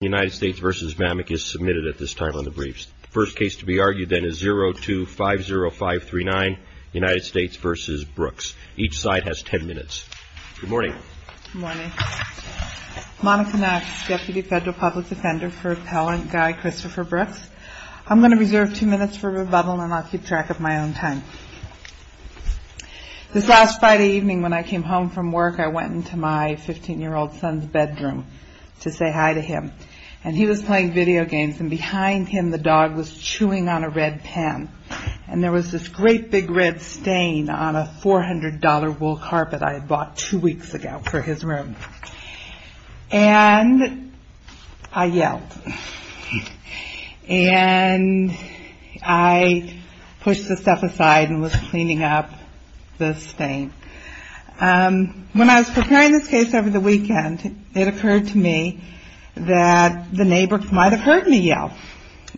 The United States v. Mamek is submitted at this time on the briefs. The first case to be argued then is 02-50539, United States v. Brooks. Each side has ten minutes. Good morning. Good morning. Monica Knox, Deputy Federal Public Defender for Appellant Guy Christopher Brooks. I'm going to reserve two minutes for rebuttal and I'll keep track of my own time. This last Friday evening when I came home from work I went into my 15-year-old son's bedroom to say hi to him. And he was playing video games and behind him the dog was chewing on a red pen. And there was this great big red stain on a $400 wool carpet I had bought two weeks ago for his room. And I yelled. And I pushed the stuff aside and was cleaning up the stain. When I was preparing this case over the weekend it occurred to me that the neighbor might have heard me yell.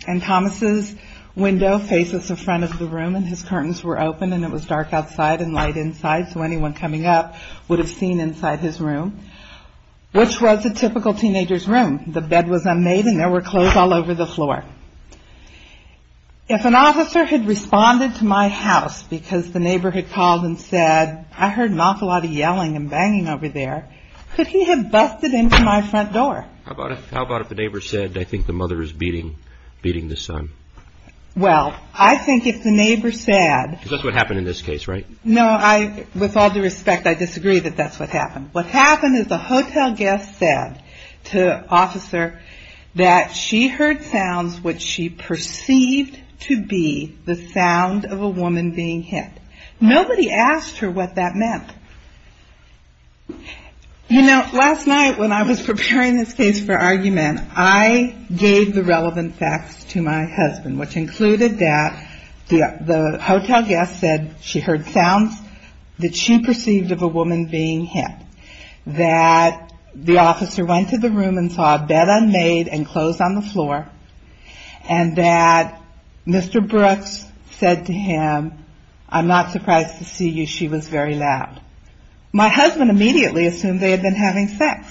And Thomas's window faces the front of the room and his curtains were open and it was dark outside and light inside so anyone coming up would have seen inside his room, which was a typical teenager's room. The bed was unmade and there were clothes all over the floor. If an officer had responded to my house because the neighbor had called and said, I heard Malcolada yelling and banging over there, could he have busted into my front door? How about if the neighbor said, I think the mother is beating the son? Well, I think if the neighbor said... Because that's what happened in this case, right? With all due respect, I disagree that that's what happened. What happened is the hotel guest said to the officer that she heard sounds which she perceived to be the sound of a woman being hit. Nobody asked her what that meant. You know, last night when I was preparing this case for argument, I gave the relevant facts to my husband, which included that the hotel guest said she heard sounds that she perceived of a woman being hit. That the officer went to the room and saw a bed unmade and clothes on the floor and that Mr. Brooks said to him, I'm not surprised to see you, she was very loud. My husband immediately assumed they had been having sex.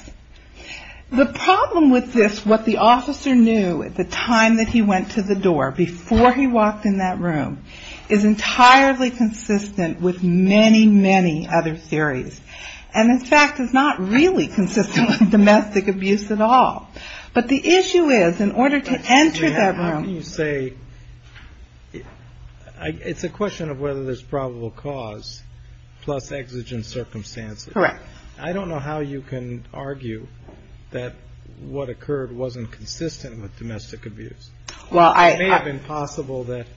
The problem with this, what the officer knew at the time that he went to the door, before he walked in that room, is entirely consistent with many, many other theories. And in fact, it's not really consistent with domestic abuse at all. But the issue is, in order to enter that room... How can you say... It's a question of whether there's probable cause plus exigent circumstances. Correct. I don't know how you can argue that what occurred wasn't consistent with domestic abuse. Well, I... It's very impossible that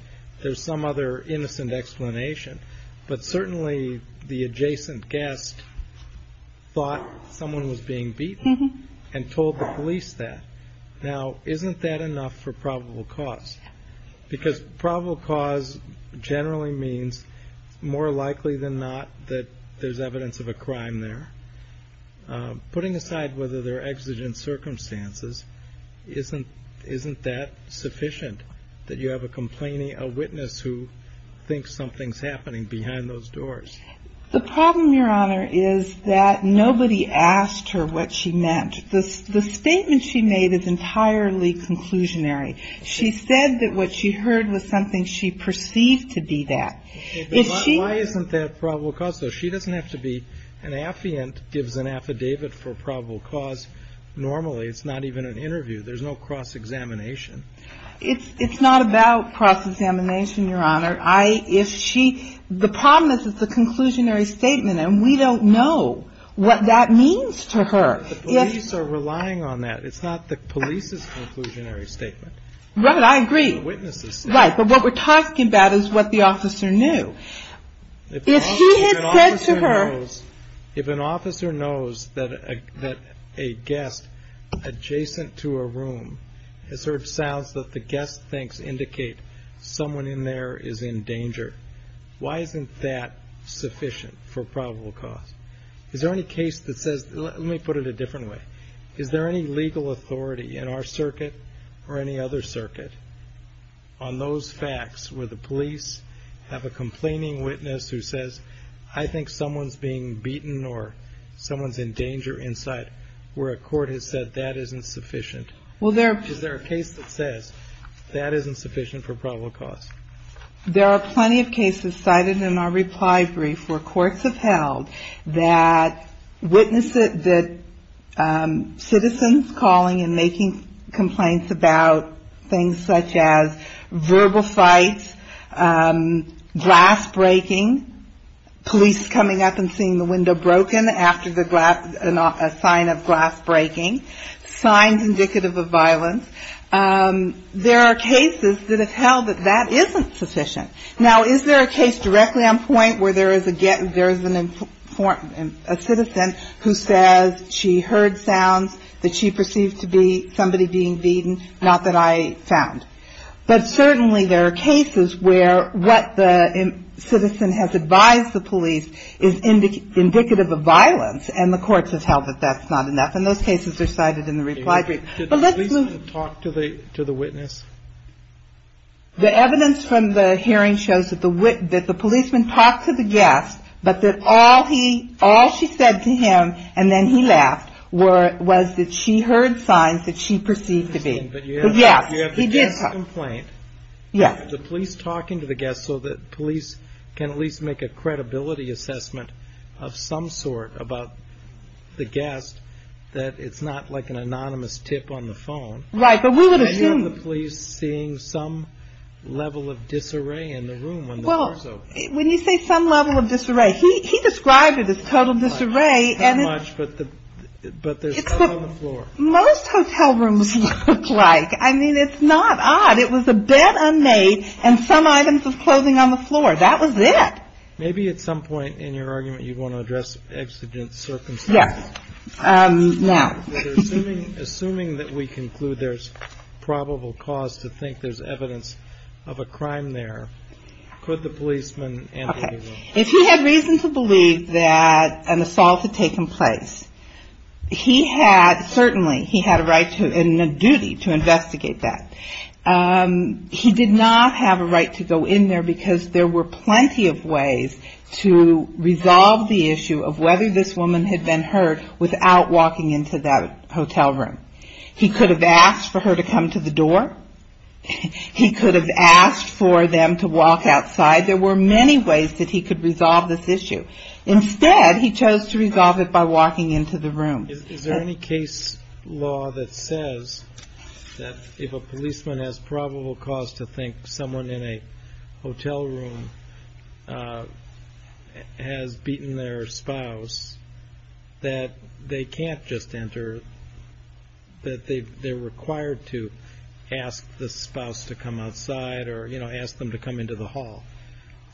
there's some other innocent explanation. But certainly the adjacent guest thought someone was being beaten and told the police that. Now, isn't that enough for probable cause? Because probable cause generally means more likely than not that there's evidence of a crime there. Putting aside whether there are exigent circumstances, isn't that sufficient? That you have a witness who thinks something's happening behind those doors? The problem, Your Honor, is that nobody asked her what she meant. The statement she made is entirely conclusionary. She said that what she heard was something she perceived to be that. Why isn't that probable cause, though? She doesn't have to be... An affiant gives an affidavit for probable cause normally. It's not even an interview. There's no cross-examination. It's not about cross-examination, Your Honor. I... If she... The problem is it's a conclusionary statement, and we don't know what that means to her. The police are relying on that. It's not the police's conclusionary statement. Right. I agree. The witness's statement. Right. But what we're talking about is what the officer knew. If he had said to her... If an officer knows that a guest adjacent to a room has heard sounds that the guest thinks indicate someone in there is in danger, why isn't that sufficient for probable cause? Is there any case that says... Let me put it a different way. Is there any legal authority in our circuit or any other circuit on those facts where the police have a complaining witness who says, I think someone's being beaten or someone's in danger inside, where a court has said that isn't sufficient? Well, there... Is there a case that says that isn't sufficient for probable cause? There are plenty of cases cited in our reply brief where courts have held that witnesses... that citizens calling and making complaints about things such as verbal fights, glass breaking, police coming up and seeing the window broken after a sign of glass breaking, signs indicative of violence. There are cases that have held that that isn't sufficient. Now, is there a case directly on point where there is a citizen who says she heard sounds that she perceived to be somebody being beaten, not that I found? But certainly there are cases where what the citizen has advised the police is indicative of violence, and the courts have held that that's not enough. And those cases are cited in the reply brief. Did the policeman talk to the witness? The evidence from the hearing shows that the policeman talked to the guest, but that all she said to him, and then he left, was that she heard signs that she perceived to be. But you have the guest's complaint. Yes. The police talking to the guest so that police can at least make a credibility assessment of some sort about the guest, that it's not like an anonymous tip on the phone. Right, but we would assume. Are you and the police seeing some level of disarray in the room when the door is open? Well, when you say some level of disarray, he described it as total disarray. Right, not much, but there's blood on the floor. It's what most hotel rooms look like. I mean, it's not odd. It was a bed unmade and some items of clothing on the floor. That was it. Maybe at some point in your argument you'd want to address exigent circumstances. Yes. Now. Assuming that we conclude there's probable cause to think there's evidence of a crime there, could the policeman enter the room? Okay. If he had reason to believe that an assault had taken place, he had certainly, he had a right and a duty to investigate that. He did not have a right to go in there because there were plenty of ways to resolve the issue of whether this woman had been hurt without walking into that hotel room. He could have asked for her to come to the door. He could have asked for them to walk outside. There were many ways that he could resolve this issue. Instead, he chose to resolve it by walking into the room. Is there any case law that says that if a policeman has probable cause to think someone in a hotel room has beaten their spouse, that they can't just enter, that they're required to ask the spouse to come outside or, you know, ask them to come into the hall?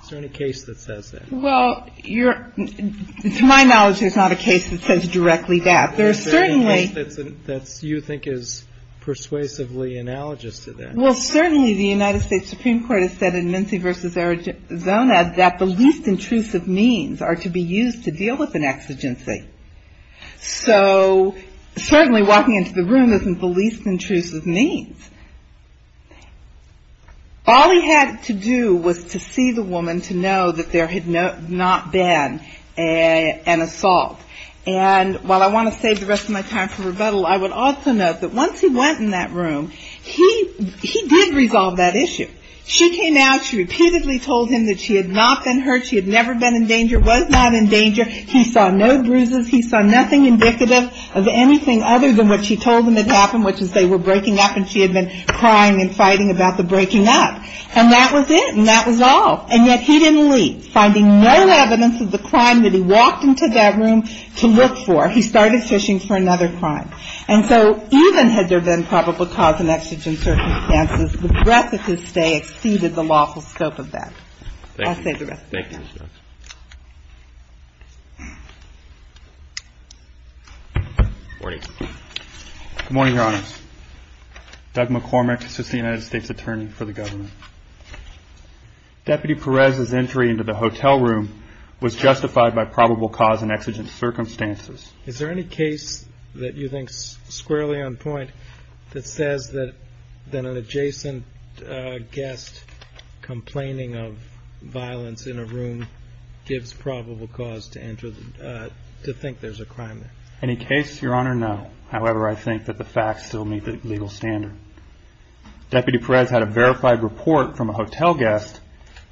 Is there any case that says that? Well, you're, to my knowledge, there's not a case that says directly that. There's certainly. Is there any case that you think is persuasively analogous to that? Well, certainly the United States Supreme Court has said in Mincy v. Arizona that the least intrusive means are to be used to deal with an exigency. So certainly walking into the room isn't the least intrusive means. All he had to do was to see the woman to know that there had not been an assault. And while I want to save the rest of my time for rebuttal, I would also note that once he went in that room, he did resolve that issue. She came out. She repeatedly told him that she had not been hurt. She had never been in danger, was not in danger. He saw no bruises. He saw nothing indicative of anything other than what she told him had happened, which is they were breaking up and she had been crying and fighting about the breaking up. And that was it. And that was all. And yet he didn't leave. Finding no evidence of the crime that he walked into that room to look for, he started fishing for another crime. And so even had there been probable cause and exigent circumstances, the breadth of his stay exceeded the lawful scope of that. I'll save the rest of my time. Thank you. Good morning, Your Honor. Doug McCormick is the United States attorney for the government. Deputy Perez's entry into the hotel room was justified by probable cause and exigent circumstances. Is there any case that you think is squarely on point that says that an adjacent guest complaining of violence in a room gives probable cause to think there's a crime there? Any case, Your Honor? No. However, I think that the facts still meet the legal standard. Deputy Perez had a verified report from a hotel guest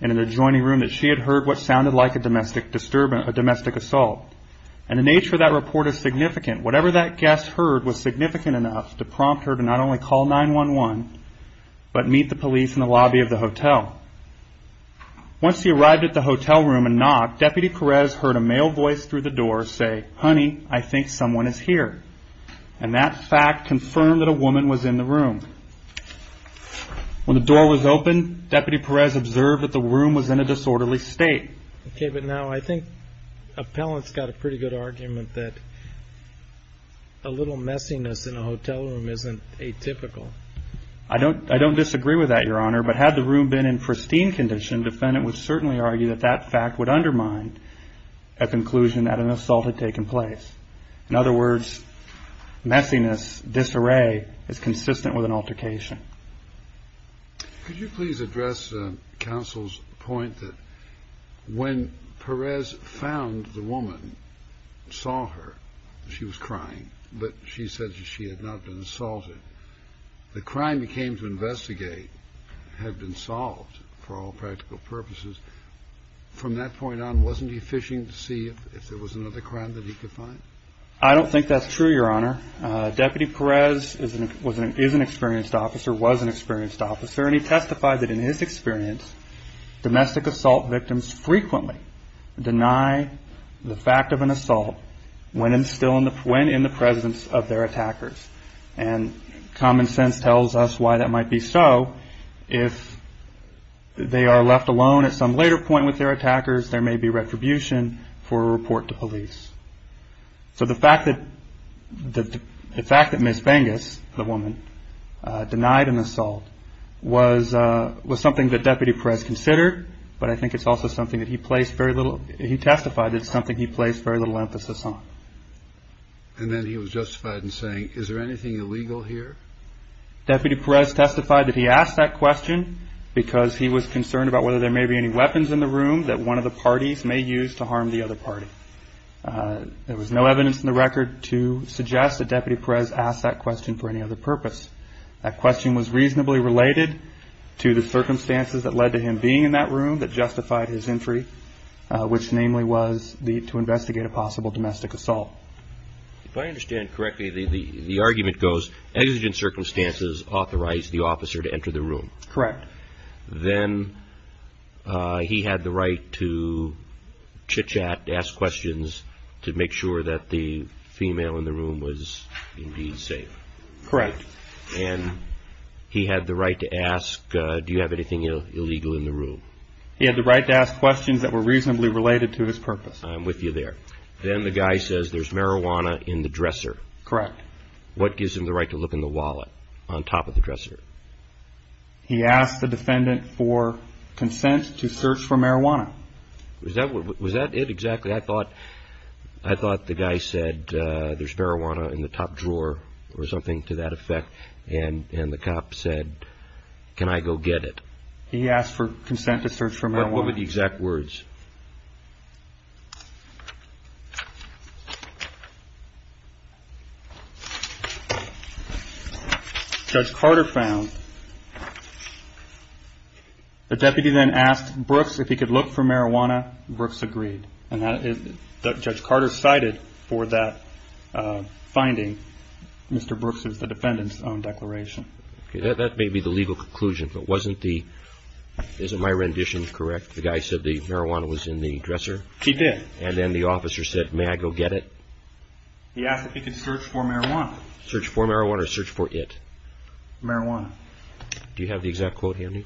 in an adjoining room that she had heard what sounded like a domestic assault. And the nature of that report is significant. Whatever that guest heard was significant enough to prompt her to not only call 911, but meet the police in the lobby of the hotel. Once he arrived at the hotel room and knocked, Deputy Perez heard a male voice through the door say, Honey, I think someone is here. And that fact confirmed that a woman was in the room. When the door was opened, Deputy Perez observed that the room was in a disorderly state. Okay, but now I think appellant's got a pretty good argument that a little messiness in a hotel room isn't atypical. I don't disagree with that, Your Honor, but had the room been in pristine condition, defendant would certainly argue that that fact would undermine a conclusion that an assault had taken place. In other words, messiness, disarray, is consistent with an altercation. Could you please address counsel's point that when Perez found the woman, saw her, she was crying, but she said she had not been assaulted. The crime he came to investigate had been solved for all practical purposes. From that point on, wasn't he fishing to see if there was another crime that he could find? I don't think that's true, Your Honor. Deputy Perez is an experienced officer, was an experienced officer, and he testified that in his experience, domestic assault victims frequently deny the fact of an assault when in the presence of their attackers. And common sense tells us why that might be so. If they are left alone at some later point with their attackers, there may be retribution for a report to police. So the fact that Ms. Bengus, the woman, denied an assault was something that Deputy Perez considered, but I think it's also something that he placed very little – he testified that it's something he placed very little emphasis on. And then he was justified in saying, is there anything illegal here? Deputy Perez testified that he asked that question because he was concerned about whether there may be any weapons in the room that one of the parties may use to harm the other party. There was no evidence in the record to suggest that Deputy Perez asked that question for any other purpose. That question was reasonably related to the circumstances that led to him being in that room that justified his entry, which namely was to investigate a possible domestic assault. If I understand correctly, the argument goes exigent circumstances authorized the officer to enter the room. Correct. Then he had the right to chit-chat, to ask questions, to make sure that the female in the room was indeed safe. Correct. And he had the right to ask, do you have anything illegal in the room? He had the right to ask questions that were reasonably related to his purpose. I'm with you there. Then the guy says there's marijuana in the dresser. Correct. What gives him the right to look in the wallet on top of the dresser? He asked the defendant for consent to search for marijuana. Was that it exactly? I thought the guy said there's marijuana in the top drawer or something to that effect, and the cop said, can I go get it? He asked for consent to search for marijuana. What were the exact words? Judge Carter found. The deputy then asked Brooks if he could look for marijuana. Brooks agreed. And Judge Carter cited for that finding, Mr. Brooks's, the defendant's own declaration. That may be the legal conclusion, but wasn't the, isn't my rendition correct? The guy said the marijuana was in the top drawer. He did. And then the officer said, may I go get it? He asked if he could search for marijuana. Search for marijuana or search for it? Marijuana. Do you have the exact quote handy?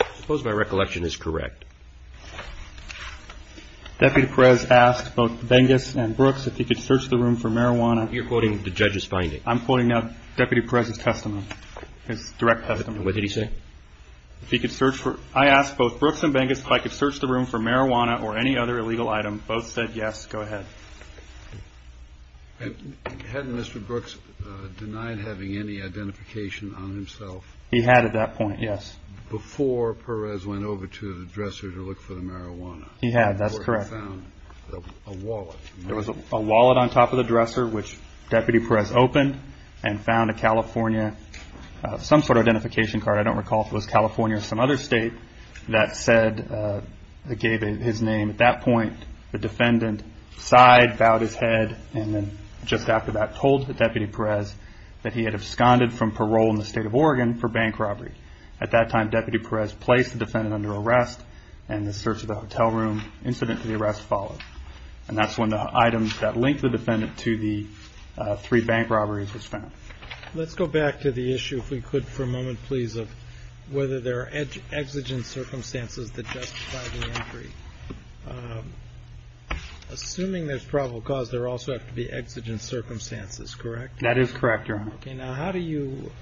I suppose my recollection is correct. Deputy Perez asked both Bengus and Brooks if he could search the room for marijuana. You're quoting the judge's finding. I'm quoting now Deputy Perez's testimony, his direct testimony. What did he say? If he could search for, I asked both Brooks and Bengus if I could search the room for marijuana or any other illegal item. Both said yes. Go ahead. Hadn't Mr. Brooks denied having any identification on himself? He had at that point, yes. Before Perez went over to the dresser to look for the marijuana. He had, that's correct. Or he found a wallet. There was a wallet on top of the dresser which Deputy Perez opened and found a California, some sort of identification card, I don't recall if it was California or some other state, that said, that gave his name. At that point the defendant sighed, bowed his head, and then just after that told Deputy Perez that he had absconded from parole in the state of Oregon for bank robbery. At that time Deputy Perez placed the defendant under arrest and the search of the hotel room incident to the arrest followed. And that's when the item that linked the defendant to the three bank robberies was found. Let's go back to the issue, if we could for a moment please, of whether there are exigent circumstances that justify the entry. Assuming there's probable cause, there also have to be exigent circumstances, correct? That is correct, Your Honor. Okay, now how do you,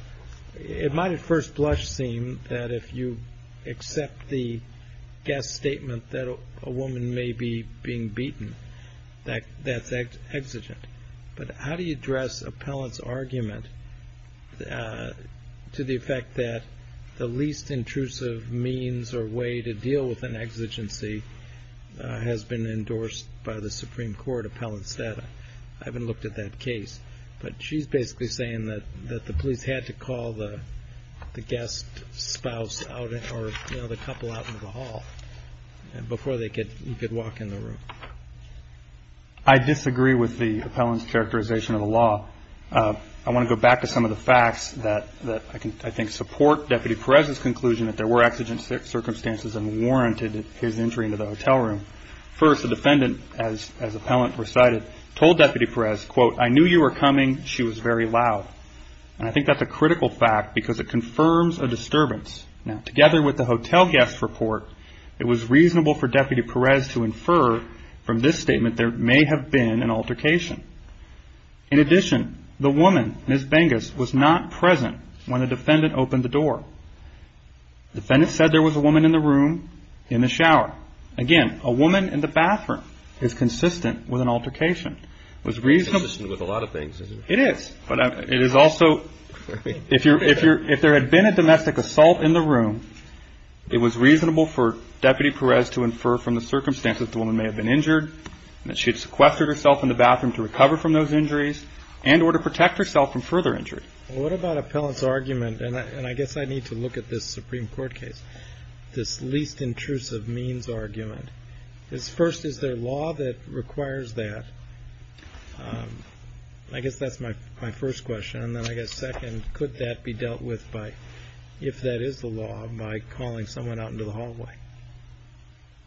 it might at first blush seem that if you accept the guest statement that a woman may be being beaten, that's exigent. But how do you address appellant's argument to the effect that the least intrusive means or way to deal with an exigency has been endorsed by the Supreme Court appellant's data? I haven't looked at that case, but she's basically saying that the police had to call the guest spouse or the couple out into the hall before you could walk in the room. I disagree with the appellant's characterization of the law. I want to go back to some of the facts that I think support Deputy Perez's conclusion that there were exigent circumstances and warranted his entry into the hotel room. First, the defendant, as appellant recited, told Deputy Perez, quote, I knew you were coming, she was very loud. And I think that's a critical fact because it confirms a disturbance. Now, together with the hotel guest report, it was reasonable for Deputy Perez to infer from this statement there may have been an altercation. In addition, the woman, Ms. Bengus, was not present when the defendant opened the door. The defendant said there was a woman in the room in the shower. Again, a woman in the bathroom is consistent with an altercation. It's consistent with a lot of things, isn't it? It is, but it is also, if there had been a domestic assault in the room, it was reasonable for Deputy Perez to infer from the circumstances the woman may have been injured, that she had sequestered herself in the bathroom to recover from those injuries, and or to protect herself from further injury. Well, what about appellant's argument, and I guess I need to look at this Supreme Court case, this least intrusive means argument. First, is there law that requires that? I guess that's my first question, and then I guess second, could that be dealt with by, if that is the law, by calling someone out into the hallway?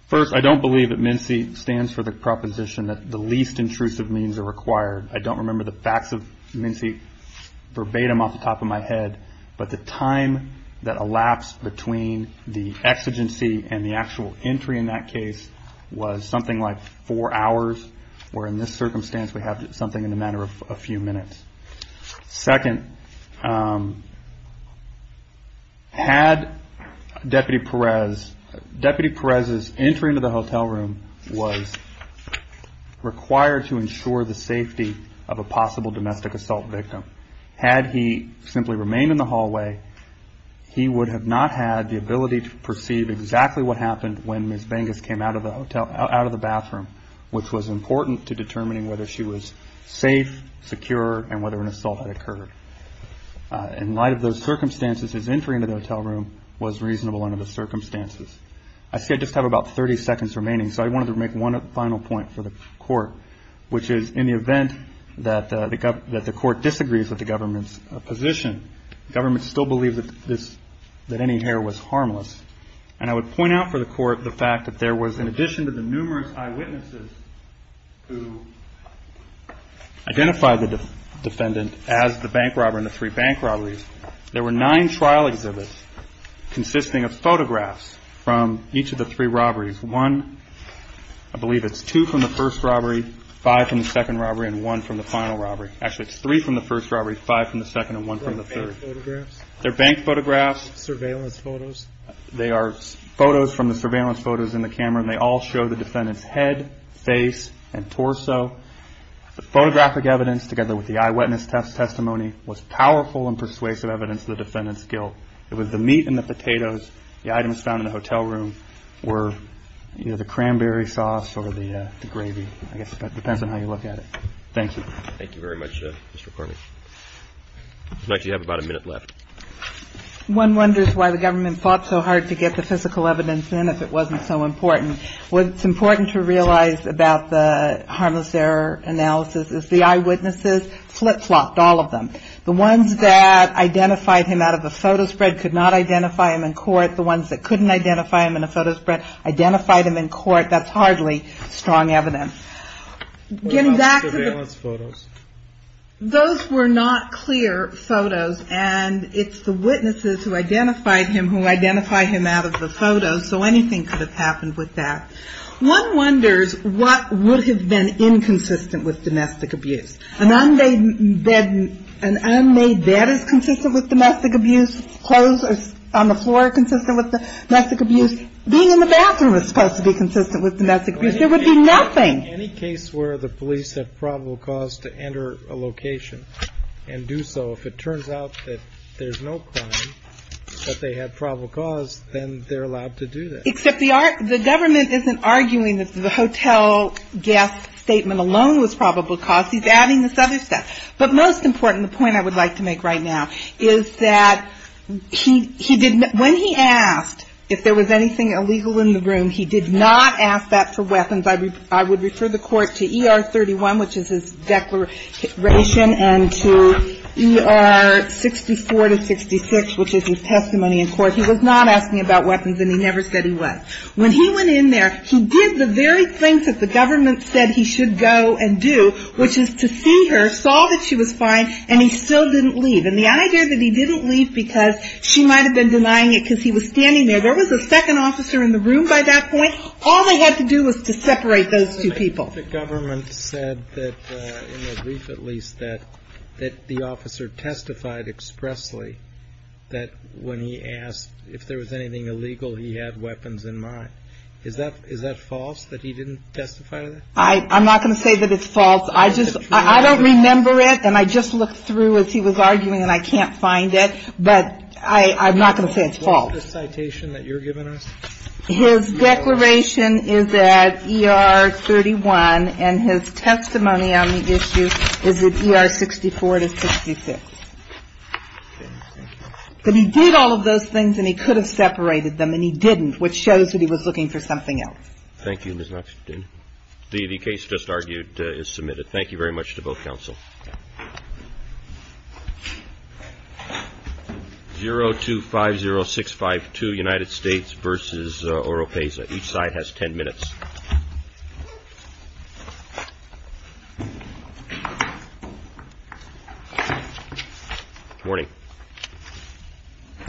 First, I don't believe that MNC stands for the proposition that the least intrusive means are required. I don't remember the facts of MNC verbatim off the top of my head, but the time that elapsed between the exigency and the actual entry in that case was something like four hours, where in this circumstance, we have something in the matter of a few minutes. Second, had Deputy Perez, Deputy Perez's entry into the hotel room was required to ensure the safety of a possible domestic assault victim. Had he simply remained in the hallway, he would have not had the ability to perceive exactly what happened when Ms. Bengus came out of the bathroom, which was important to determining whether she was safe, secure, and whether an assault had occurred. In light of those circumstances, his entry into the hotel room was reasonable under the circumstances. I see I just have about 30 seconds remaining, so I wanted to make one final point for the Court, which is in the event that the Court disagrees with the government's position, the government still believes that any hair was harmless. And I would point out for the Court the fact that there was, in addition to the numerous eyewitnesses who identified the defendant as the bank robber in the three bank robberies, there were nine trial exhibits consisting of photographs from each of the three robberies. One, I believe it's two from the first robbery, five from the second robbery, and one from the final robbery. Actually, it's three from the first robbery, five from the second, and one from the third. They're bank photographs? They're bank photographs. Surveillance photos? They are photos from the surveillance photos in the camera, and they all show the defendant's head, face, and torso. The photographic evidence, together with the eyewitness testimony, was powerful and persuasive evidence of the defendant's guilt. It was the meat and the potatoes, the items found in the hotel room, were either the cranberry sauce or the gravy. I guess it depends on how you look at it. Thank you. Thank you very much, Mr. McCormick. Looks like you have about a minute left. One wonders why the government fought so hard to get the physical evidence in if it wasn't so important. What's important to realize about the harmless error analysis is the eyewitnesses flip-flopped all of them. The ones that identified him out of a photo spread could not identify him in court. The ones that couldn't identify him in a photo spread identified him in court. That's hardly strong evidence. What about the surveillance photos? Those were not clear photos, and it's the witnesses who identified him who identify him out of the photos, so anything could have happened with that. One wonders what would have been inconsistent with domestic abuse. An unmade bed is consistent with domestic abuse. Clothes on the floor are consistent with domestic abuse. Being in the bathroom is supposed to be consistent with domestic abuse. There would be nothing. Any case where the police have probable cause to enter a location and do so, if it turns out that there's no crime, that they have probable cause, then they're allowed to do that. Except the government isn't arguing that the hotel guest statement alone was probable cause. He's adding this other stuff. But most important, the point I would like to make right now, is that when he asked if there was anything illegal in the room, he did not ask that for weapons. I would refer the Court to ER 31, which is his declaration, and to ER 64 to 66, which is his testimony in court. He was not asking about weapons, and he never said he was. When he went in there, he did the very thing that the government said he should go and do, which is to see her, saw that she was fine, and he still didn't leave. And the idea that he didn't leave because she might have been denying it because he was standing there, there was a second officer in the room by that point. All they had to do was to separate those two people. But the government said that, in the brief at least, that the officer testified expressly that when he asked if there was anything illegal, he had weapons in mind. Is that false, that he didn't testify to that? I'm not going to say that it's false. I don't remember it, and I just looked through as he was arguing, and I can't find it. But I'm not going to say it's false. Is that the citation that you're giving us? His declaration is at ER 31, and his testimony on the issue is at ER 64 to 66. But he did all of those things, and he could have separated them, and he didn't, which shows that he was looking for something else. Thank you, Ms. Knox. The case just argued is submitted. Thank you very much to both counsel. 0250652, United States v. Oropesa. Each side has ten minutes. Morning.